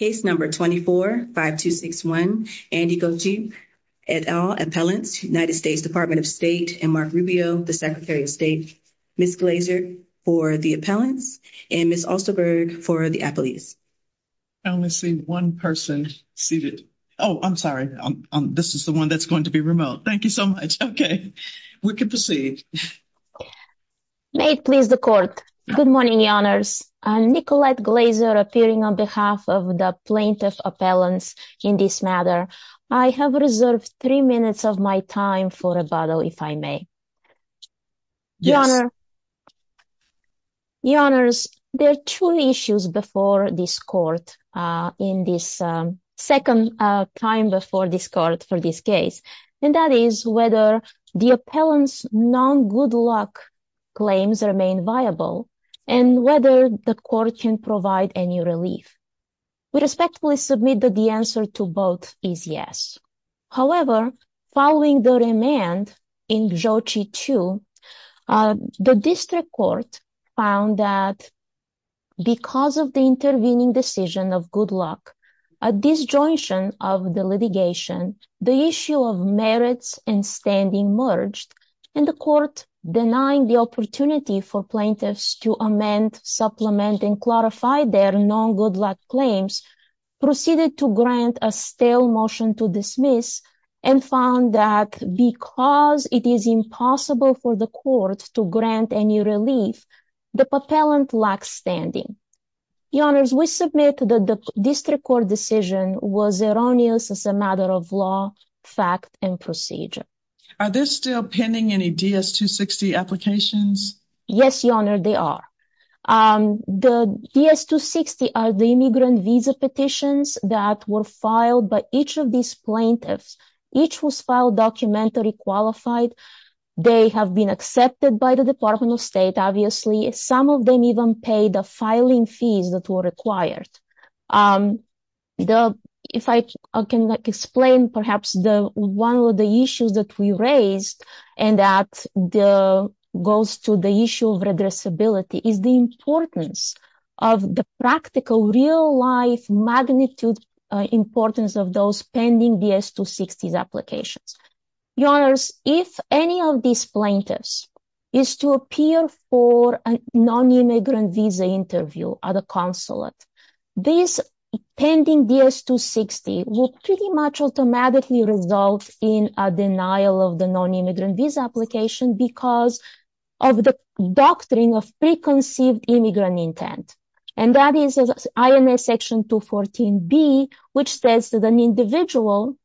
Case number 24-5261, Andi Gjoci et al. Appellants, United States Department of State and Mark Rubio, the Secretary of State. Ms. Glazer for the appellants and Ms. Osterberg for the appellees. I only see one person seated. Oh, I'm sorry. This is the one that's going to be remote. Thank you so much. Okay, we can proceed. May it please the court. Good morning, Your Honors. Nicolette Glazer appearing on behalf of the plaintiff appellants in this matter. I have reserved three minutes of my time for rebuttal, if I may. Your Honor. Your Honors, there are two issues before this court in this second time before this court for this case, and that is whether the appellants' non-good luck claims remain viable and whether the court can provide any relief. We respectfully submit that the answer to both is yes. However, following the remand in Gjoci 2, the district court found that because of the intervening decision of good luck, a disjointion of the litigation, the issue of merits and standing merged, and the court denying the opportunity for plaintiffs to amend, supplement, and clarify their non-good luck claims, proceeded to grant a stale motion to dismiss and found that because it is the district court decision was erroneous as a matter of law, fact, and procedure. Are there still pending any DS-260 applications? Yes, Your Honor, they are. The DS-260 are the immigrant visa petitions that were filed by each of these plaintiffs. Each was filed documentally qualified. They have been accepted by the Department of State, obviously. Some of them even paid the filing fees that were required. If I can explain perhaps one of the issues that we raised, and that goes to the issue of regressibility, is the importance of the practical, real-life magnitude importance of those pending DS-260 applications. Your Honors, if any of these plaintiffs is to appear for a non-immigrant visa interview at a consulate, this pending DS-260 will pretty much automatically result in a denial of the non-immigrant visa application because of the doctrine of preconceived immigrant intent, and that is INA section 214b, which says that an individual,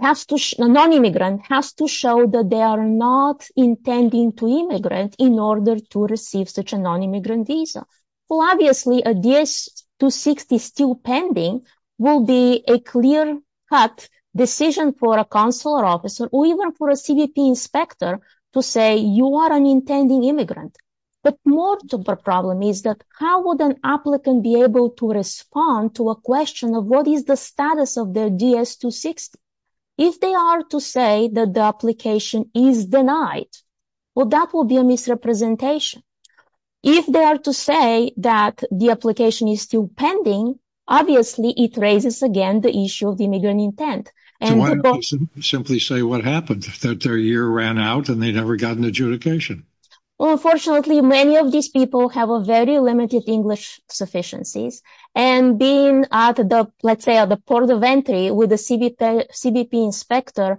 a non-immigrant, has to show that they are not intending to immigrate in order to receive such a non-immigrant visa. Well, obviously, a DS-260 still pending will be a clear-cut decision for a consular officer, or even for a CBP inspector, to say you are an intending immigrant. But more of the problem is that how would an applicant be able to respond to a question of what is the status of their DS-260? If they are to say that the application is denied, well, that will be a misrepresentation. If they are to say that the application is still pending, obviously, it raises again the issue of the immigrant intent. Do I simply say what happened, that their year ran out and they never got an adjudication? Well, unfortunately, many of these people have a very limited English sufficiencies, and being at let's say at the port of entry with a CBP inspector,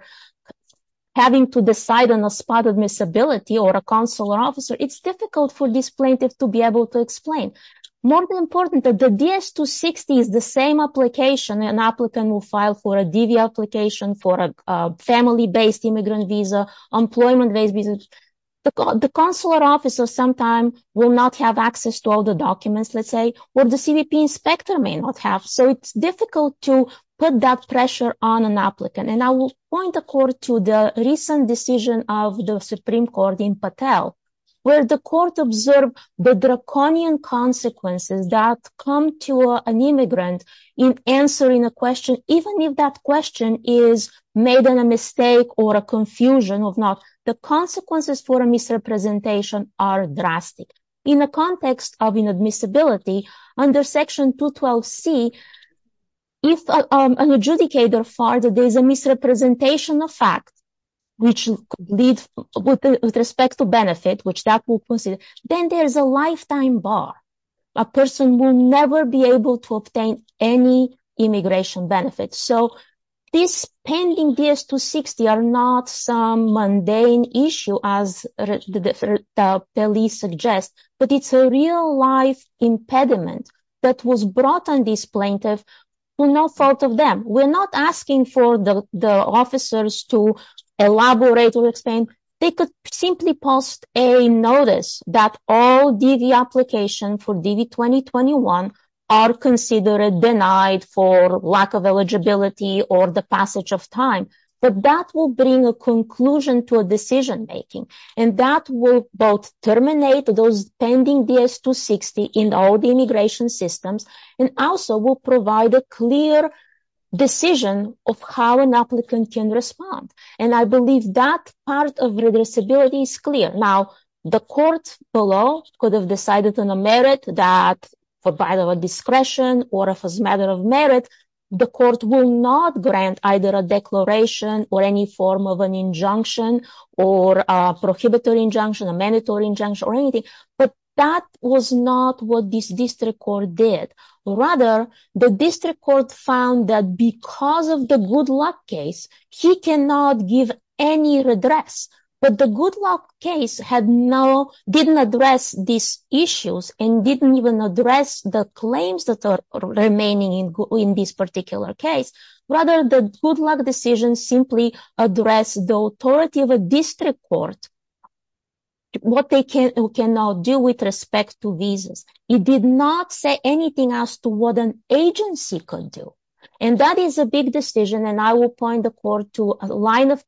having to decide on a spot of miscibility or a consular officer, it's difficult for this plaintiff to be able to explain. More importantly, the DS-260 is the same application an applicant will file for a DV application, for a family-based immigrant visa, employment-based visa. The consular officer sometimes will not have access to all the documents, let's say, what the CBP inspector may not have. So it's difficult to put that pressure on an applicant. And I will point the court to the recent decision of the Supreme Court in Patel, where the court observed the draconian consequences that come to an immigrant in answering a question, even if that question is made a mistake or a confusion or not. The consequences for a misrepresentation are In the context of inadmissibility, under section 212c, if an adjudicator finds that there's a misrepresentation of facts, which leads with respect to benefit, which that will consider, then there's a lifetime bar. A person will never be able to obtain any immigration benefits. So this pending DS-260 are not some mundane issue, as the police suggest, but it's a real-life impediment that was brought on this plaintiff to no fault of them. We're not asking for the officers to elaborate or explain. They could simply post a notice that all DV applications for DV-2021 are considered denied for lack of eligibility or the passage of time. But that will bring a conclusion to a decision making, and that will both terminate those pending DS-260 in all the immigration systems, and also will provide a clear decision of how an applicant can respond. And I believe that part of redressability is clear. Now, the court below could have decided on a merit that provided a discretion or if it's a matter of merit, the court will not grant either a declaration or any form of an injunction or a prohibitory injunction, a mandatory injunction, or anything. But that was not what this district court did. Rather, the district court found that because of the good luck case, he cannot give any redress. But the good luck case didn't address these issues and didn't even address the claims that are remaining in this particular case. Rather, the good luck decision simply addressed the authority of a district court, what they can now do with respect to visas. It did not say anything as to what an agency could do. And that is a big decision, and I will point the court to a line of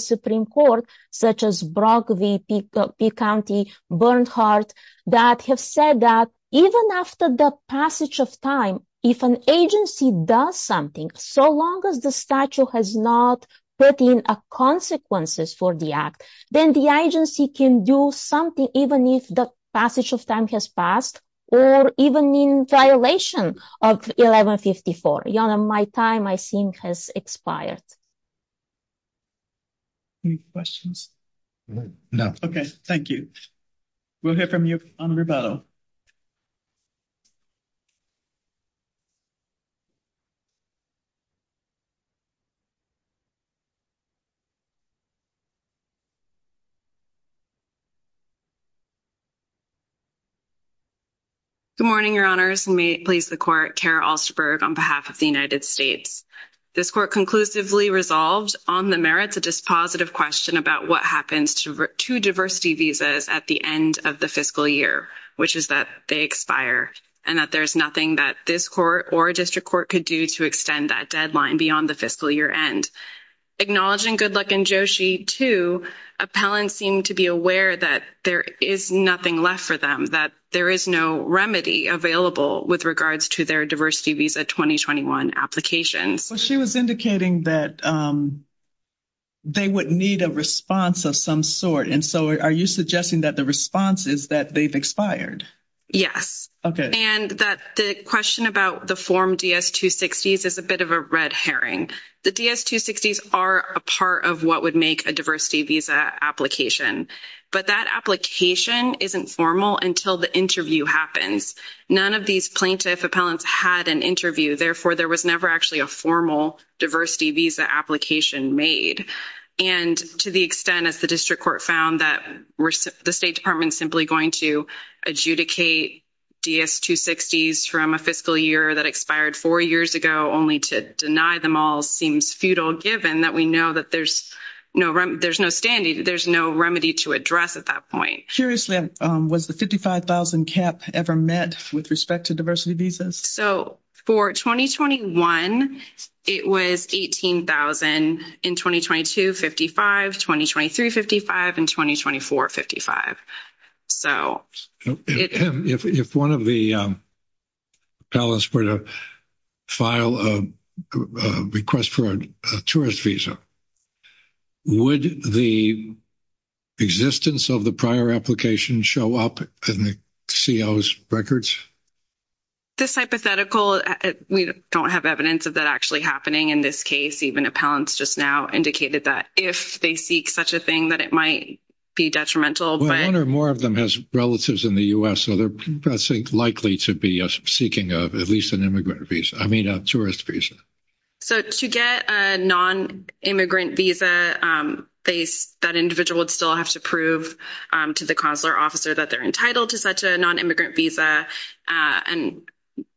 Supreme Court, such as Brock v. Peay County, Bernhardt, that have said that even after the passage of time, if an agency does something, so long as the statute has not put in consequences for the act, then the agency can do something even if the passage of time has passed, or even in violation of 1154. Jana, my time, I think, has expired. Any questions? No. Okay, thank you. We'll hear from you on rebuttal. Good morning, Your Honors. May it please the Court, Kara Alsterberg on behalf of the United States. This Court conclusively resolved on the merits a dispositive question about what happens to diversity visas at the end of the fiscal year, which is that they expire, and that there's nothing that this Court or a district court could do to extend that deadline beyond the fiscal year end. Acknowledging good luck in Joshi, too, appellants seem to be aware that there is nothing left for them, that there is no remedy available with regards to their diversity visa 2021 applications. Well, she was indicating that they would need a response of some sort, and so are you suggesting that the response is that they've expired? Yes, and that the question about the form DS-260 is a bit of a red herring. The DS-260s are a part of what would make a diversity visa application, but that application isn't formal until the interview happens. None of these plaintiff appellants had an interview. Therefore, there was never actually a formal diversity visa application made, and to the extent, as the district court found, that the State Department's simply going to adjudicate DS-260s from a fiscal year that expired four years ago only to deny them all seems futile, given that we know that there's no remedy to address at that point. Curiously, was the $55,000 cap ever met with respect to diversity visas? So, for 2021, it was $18,000. In 2022, $55,000. In 2023, $55,000. In 2024, $55,000. If one of the appellants were to file a request for a tourist visa, would the existence of the prior application show up in the CO's records? This hypothetical, we don't have evidence of that actually happening in this case. Even appellants just now indicated that if they seek such a thing, that it might be detrimental. One or more of them has relatives in the U.S., so they're likely to be seeking at least an immigrant visa, I mean a tourist visa. So, to get a non-immigrant visa, that individual would still have to prove to the consular officer that they're entitled to such a non-immigrant visa, and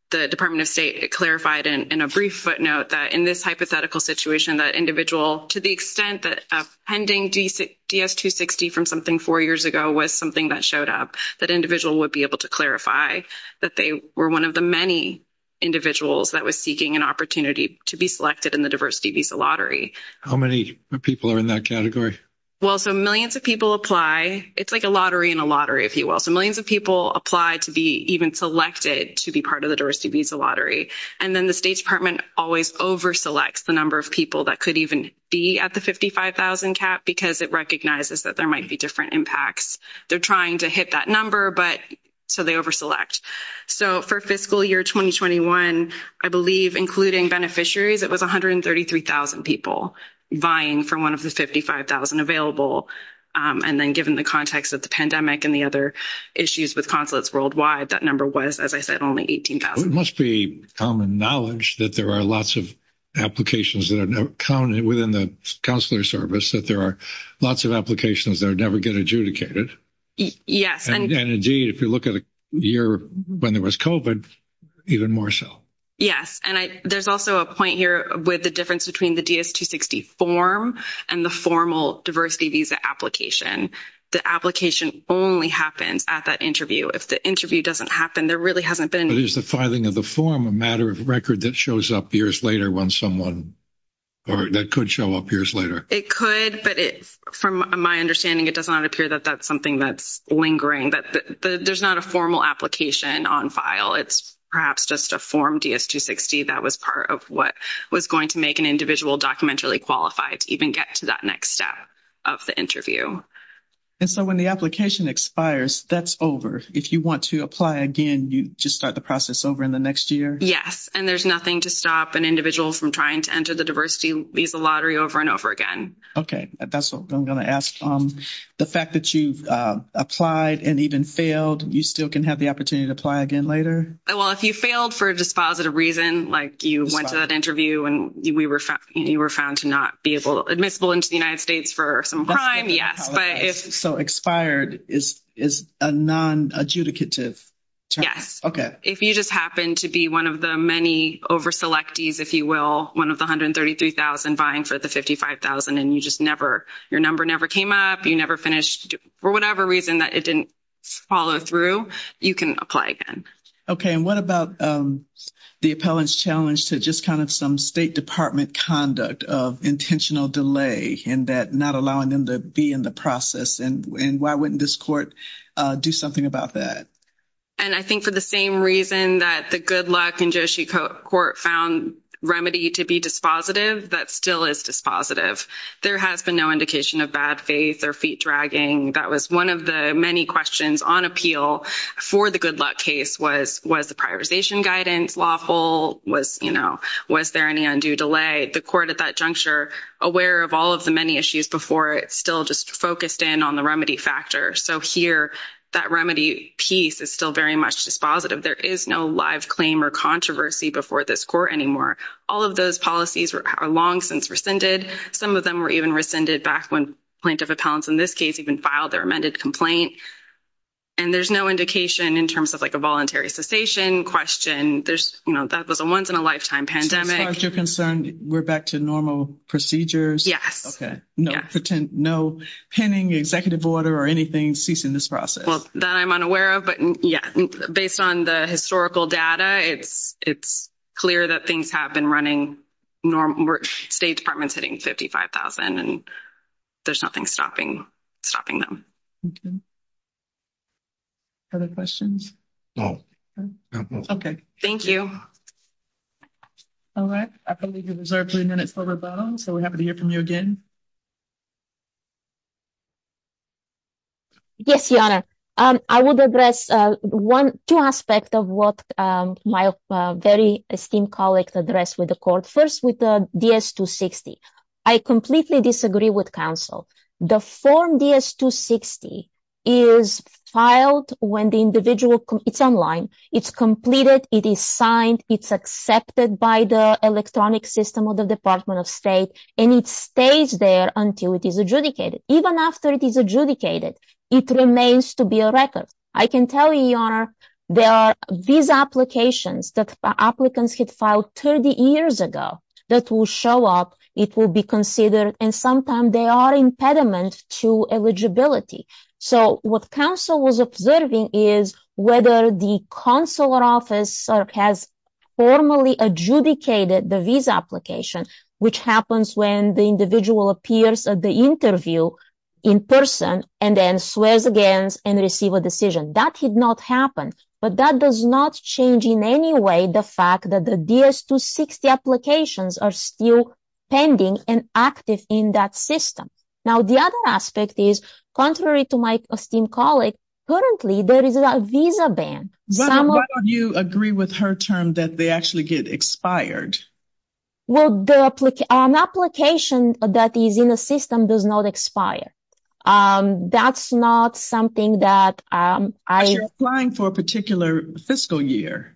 the Department of State clarified in a brief footnote that in this hypothetical situation, that individual, to the extent that pending DS-260 from something four years ago was something that showed up, that individual would be able to clarify that they were one of the many individuals that was seeking an opportunity to be selected in the diversity visa lottery. How many people are in that category? Well, so millions of people apply. It's like a lottery in a lottery, if you will. So, millions of people apply to be even selected to be part of the diversity visa lottery, and then the State Department always over-selects the number of people that could even be at the $55,000 cap because it recognizes that there might be different impacts. They're trying to hit that number, but so they over-select. So, for fiscal year 2021, I believe, including beneficiaries, it was 133,000 people vying for one of the 55,000 available, and then given the context of the pandemic and the other issues with consulates worldwide, that number was, as I said, only 18,000. It must be common knowledge that there are lots of applications within the consular service, that there are lots of applications that never get adjudicated. Yes. And indeed, if you look at a year when there was COVID, even more so. Yes. And there's also a point here with the difference between the DS-260 form and the formal diversity visa application. The application only happens at that interview. If the interview doesn't happen, there really hasn't been... But is the filing of the form a matter of record that shows up years later when someone... Or that could show up years later? It could, but from my understanding, it does not appear that that's something that's lingering. There's not a formal application on file. It's perhaps just a form DS-260 that was part of what was going to make an individual documentarily qualified to even get to that next step of the interview. And so when the application expires, that's over. If you want to apply again, you just start the process over in the next year? Yes. And there's nothing to stop an individual from trying to enter the diversity visa lottery over and over again. Okay. That's what I'm going to ask. The fact that you've applied and even failed, you still can have the opportunity to apply again later? Well, if you failed for a dispositive reason, like you went to that interview and you were found to not be admissible into the United States for some crime, yes. So expired is a non-adjudicative term? Yes. If you just happen to be one of the many over-selectees, if you will, one of the 133,000 vying for the 55,000 and your number never came up, you never finished, for whatever reason that it didn't follow through, you can apply again. Okay. And what about the appellant's challenge to just kind of some State Department conduct of intentional delay and not allowing them to be in the process? And why wouldn't this court do something about that? And I think for the same reason that the Good Luck and Josie Court found remedy to be dispositive, that still is dispositive. There has been no indication of bad faith or feet dragging. That was one of the many questions on appeal for the Good Luck case was, was the prioritization guidance lawful? Was, you know, was there any undue delay? The court at that juncture, aware of all of the many issues before it still just focused in on the remedy factor. So here that remedy piece is still very much dispositive. There is no live claim or controversy before this court anymore. All of those policies are long since rescinded. Some of them were even rescinded back when plaintiff appellants, in this case, even filed their amended complaint. And there's no indication in terms of like a voluntary cessation question. There's, you know, that was a once in a lifetime pandemic. As far as you're concerned, we're back to normal procedures? Yes. Okay. No pending executive order or anything ceasing this process? Well, that I'm unaware of. But yeah, based on the historical data, it's, it's clear that things have been running normal. State Department's hitting $55,000. And there's nothing stopping, stopping them. Other questions? Okay. Thank you. All right. I believe you've reserved three minutes for rebuttal. So we're happy to hear again. Yes, Your Honor. I would address one, two aspects of what my very esteemed colleague addressed with the court. First with the DS-260. I completely disagree with counsel. The form DS-260 is filed when the individual, it's online, it's completed, it is signed, it's accepted by the electronic system of the Department of State, and it stays there until it is adjudicated. Even after it is adjudicated, it remains to be a record. I can tell you, Your Honor, there are visa applications that applicants had filed 30 years ago that will show up, it will be considered, and sometimes they are impediment to eligibility. So what counsel was observing is whether the consular office has formally adjudicated the visa application, which happens when the individual appears at the interview in person and then swears against and receive a decision. That did not happen. But that does not change in any way the fact that the DS-260 applications are still pending and active in that system. Now, the other aspect is, contrary to my esteemed colleague, currently there is a visa ban. Why don't you agree with her term that they actually get expired? Well, an application that is in a system does not expire. That's not something that I- But you're applying for a particular fiscal year.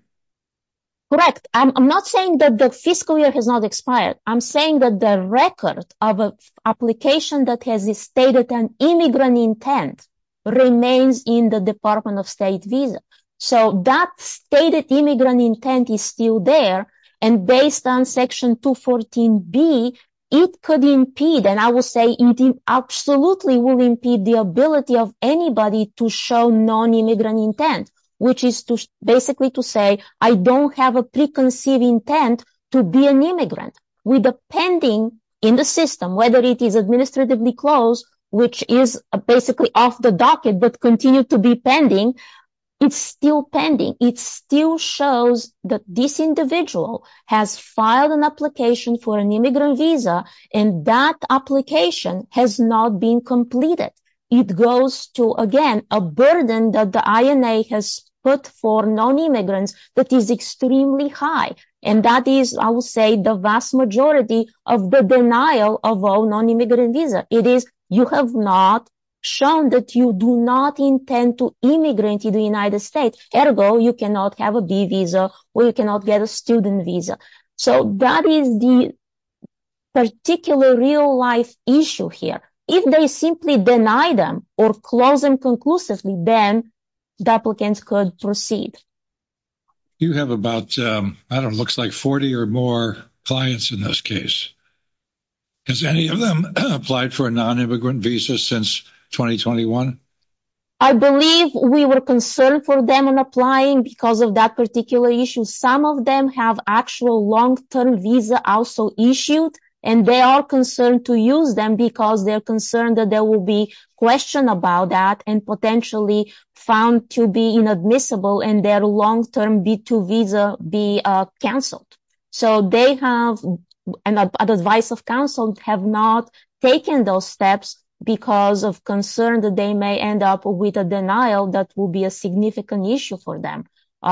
Correct. I'm not saying that the fiscal year has not expired. I'm saying that the record of an application that has a stated an immigrant intent remains in the Department of State visa. So that stated immigrant intent is still there. And based on Section 214B, it could impede, and I will say it absolutely will impede the ability of anybody to show non-immigrant intent, which is basically to say, I don't have a preconceived intent to be an immigrant. With the pending in the system, whether it is administratively closed, which is basically off the docket, but continue to be pending, it's still pending. It still shows that this individual has filed an application for an immigrant visa, and that application has not been completed. It goes to, again, a burden that the INA has put for non-immigrants that is extremely high. And that is, I will say, the vast majority of the denial of a non-immigrant visa. It is, you have not shown that you do not intend to immigrate to the United States. Ergo, you cannot have a B visa or you cannot get a student visa. So that is the particular real life issue here. If they simply deny them or close them conclusively, then the applicants could proceed. You have about, I don't know, it looks like 40 or more clients in this case. Has any of them applied for a non-immigrant visa since 2021? I believe we were concerned for them in applying because of that particular issue. Some of them have actual long-term visa also issued, and they are concerned to use them because they're concerned that there will be question about that and potentially found to be inadmissible in their long-term B2 visa be canceled. So they have, and advice of counsel, have not taken those steps because of concern that they may end up with a denial that will be a significant issue for them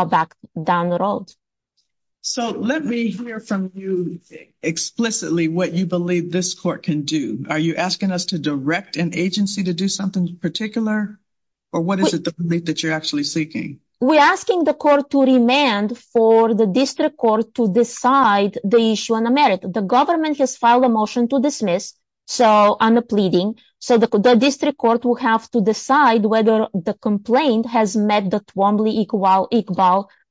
back down the road. So let me hear from you explicitly what you believe this court can do. Are you asking us to direct an agency to do something particular? Or what is it that you're actually seeking? We're asking the court to remand for the district court to decide the issue on the merit. The government has filed a motion to dismiss. So I'm pleading. So the district court will have to decide whether the complaint has met the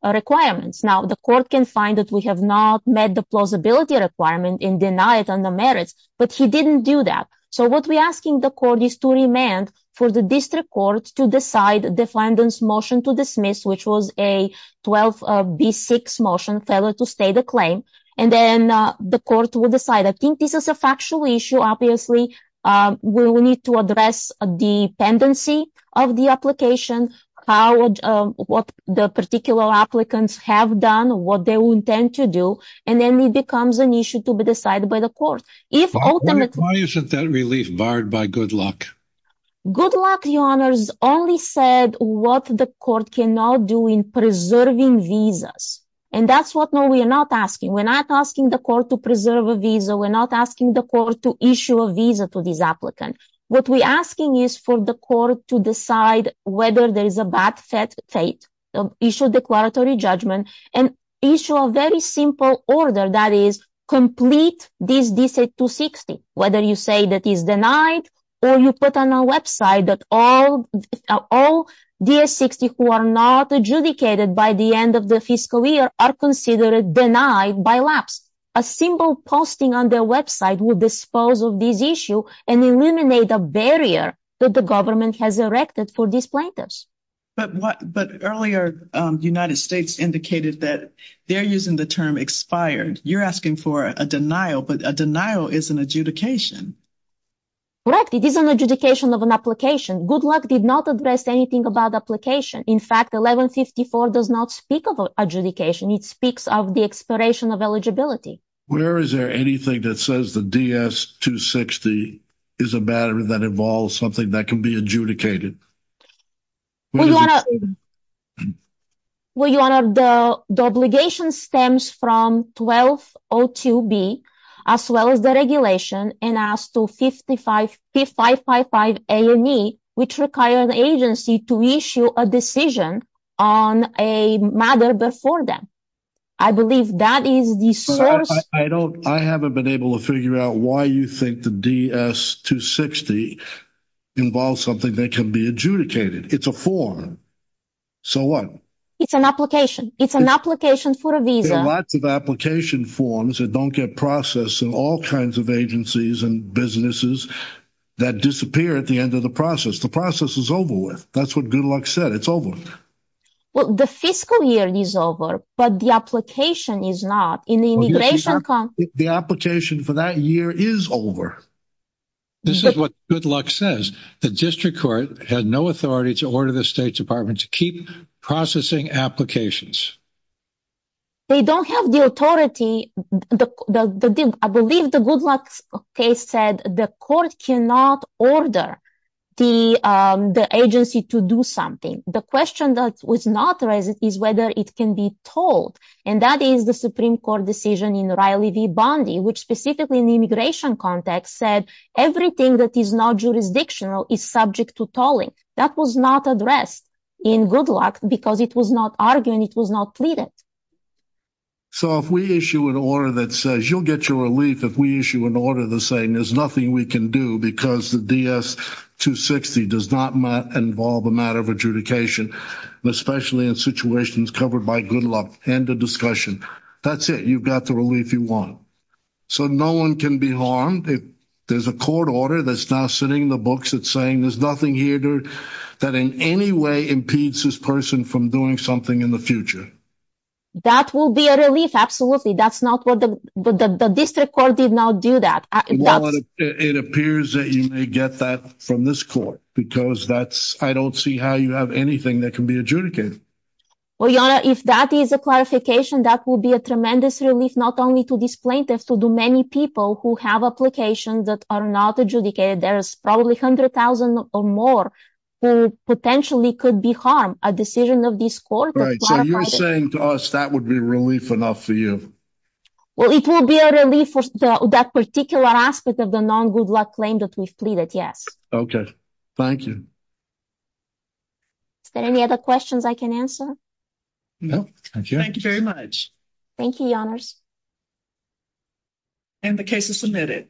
requirements. Now the court can find that we have not met the plausibility requirement and deny it on the merits, but he didn't do that. So what we're asking the court is to remand for the district court to decide the defendant's motion to dismiss, which was a 12B6 motion, failure to state the claim. And then the court will decide. I think this is a factual issue. Obviously, we will need to address the dependency of the application, what the particular applicants have done, what they will intend to do. And then it becomes an issue to be decided by the court. Why isn't that relief barred by good luck? Good luck, your honor, only said what the court can now do in preserving visas. And that's what no, we are not asking. We're not asking the court to preserve a visa. We're not asking the court to issue a visa to this applicant. What we're asking is for the court to decide whether there is a bad fate, issue a declaratory judgment, and issue a very simple order that is complete this DSA 260, whether you say that is denied or you put on a website that all DS-60 who are not adjudicated by the end of the fiscal year are considered denied by lapse. A simple posting on their website will dispose of this issue and eliminate a barrier that the government has erected for these plaintiffs. But what but earlier the United States indicated that they're using the term expired. You're asking for a denial, but a denial is an adjudication. Correct. It is an adjudication of an application. Good luck did not address anything about application. In fact, 1154 does not speak of adjudication. It speaks of the expiration of eligibility. Where is there anything that says the DS-260 is a matter that involves something that can be adjudicated? Well, your honor, the obligation stems from 1202B as well as the regulation and as to 555 A&E, which require an agency to issue a decision on a matter before them. I believe that is the source. I haven't been able to figure out why you think the DS-260 involves something that can be adjudicated. It's a form. So what? It's an application. It's an application for a visa. Lots of application forms that don't get processed in all kinds of agencies and businesses that disappear at the end of the process. The process is over with. That's what good luck said. It's over. Well, the fiscal year is over, but the application is not. The application for that year is over. This is what good luck says. The district court had no authority to order the State Department to keep processing applications. They don't have the authority. I believe the good luck case said the court cannot order the agency to do something. The question that was not raised is whether it can be told. And that is the Supreme Court decision in Riley v. Bondi, which specifically in the immigration context said everything that is not jurisdictional is subject to tolling. That was not addressed in good luck because it was not argued and it was not pleaded. So if we issue an order that says you'll get your relief if we issue an order saying there's nothing we can do because the DS-260 does not involve a matter of adjudication, especially in situations covered by good luck and the discussion, that's it. You've got the relief you want. So no one can be harmed. There's a court order that's now sitting in the books that's saying there's nothing here that in any way impedes this person from doing something in the future. That will be a relief. Absolutely. That's not what the district court did not do that. It appears that you may get that from this court because that's I don't see how you have anything that can be adjudicated. Well, Yana, if that is a clarification, that will be a tremendous relief, not only to these plaintiffs, to the many people who have applications that are not adjudicated. There's probably 100,000 or more who potentially could be harmed. A decision of this court. Right. So you're saying to us that would be relief enough for you? Well, it will be a relief for that particular aspect of the non-good luck claim that we've pleaded. Yes. Okay. Thank you. Is there any other questions I can answer? No. Thank you. Thank you very much. Thank you, Your Honors. And the case is submitted.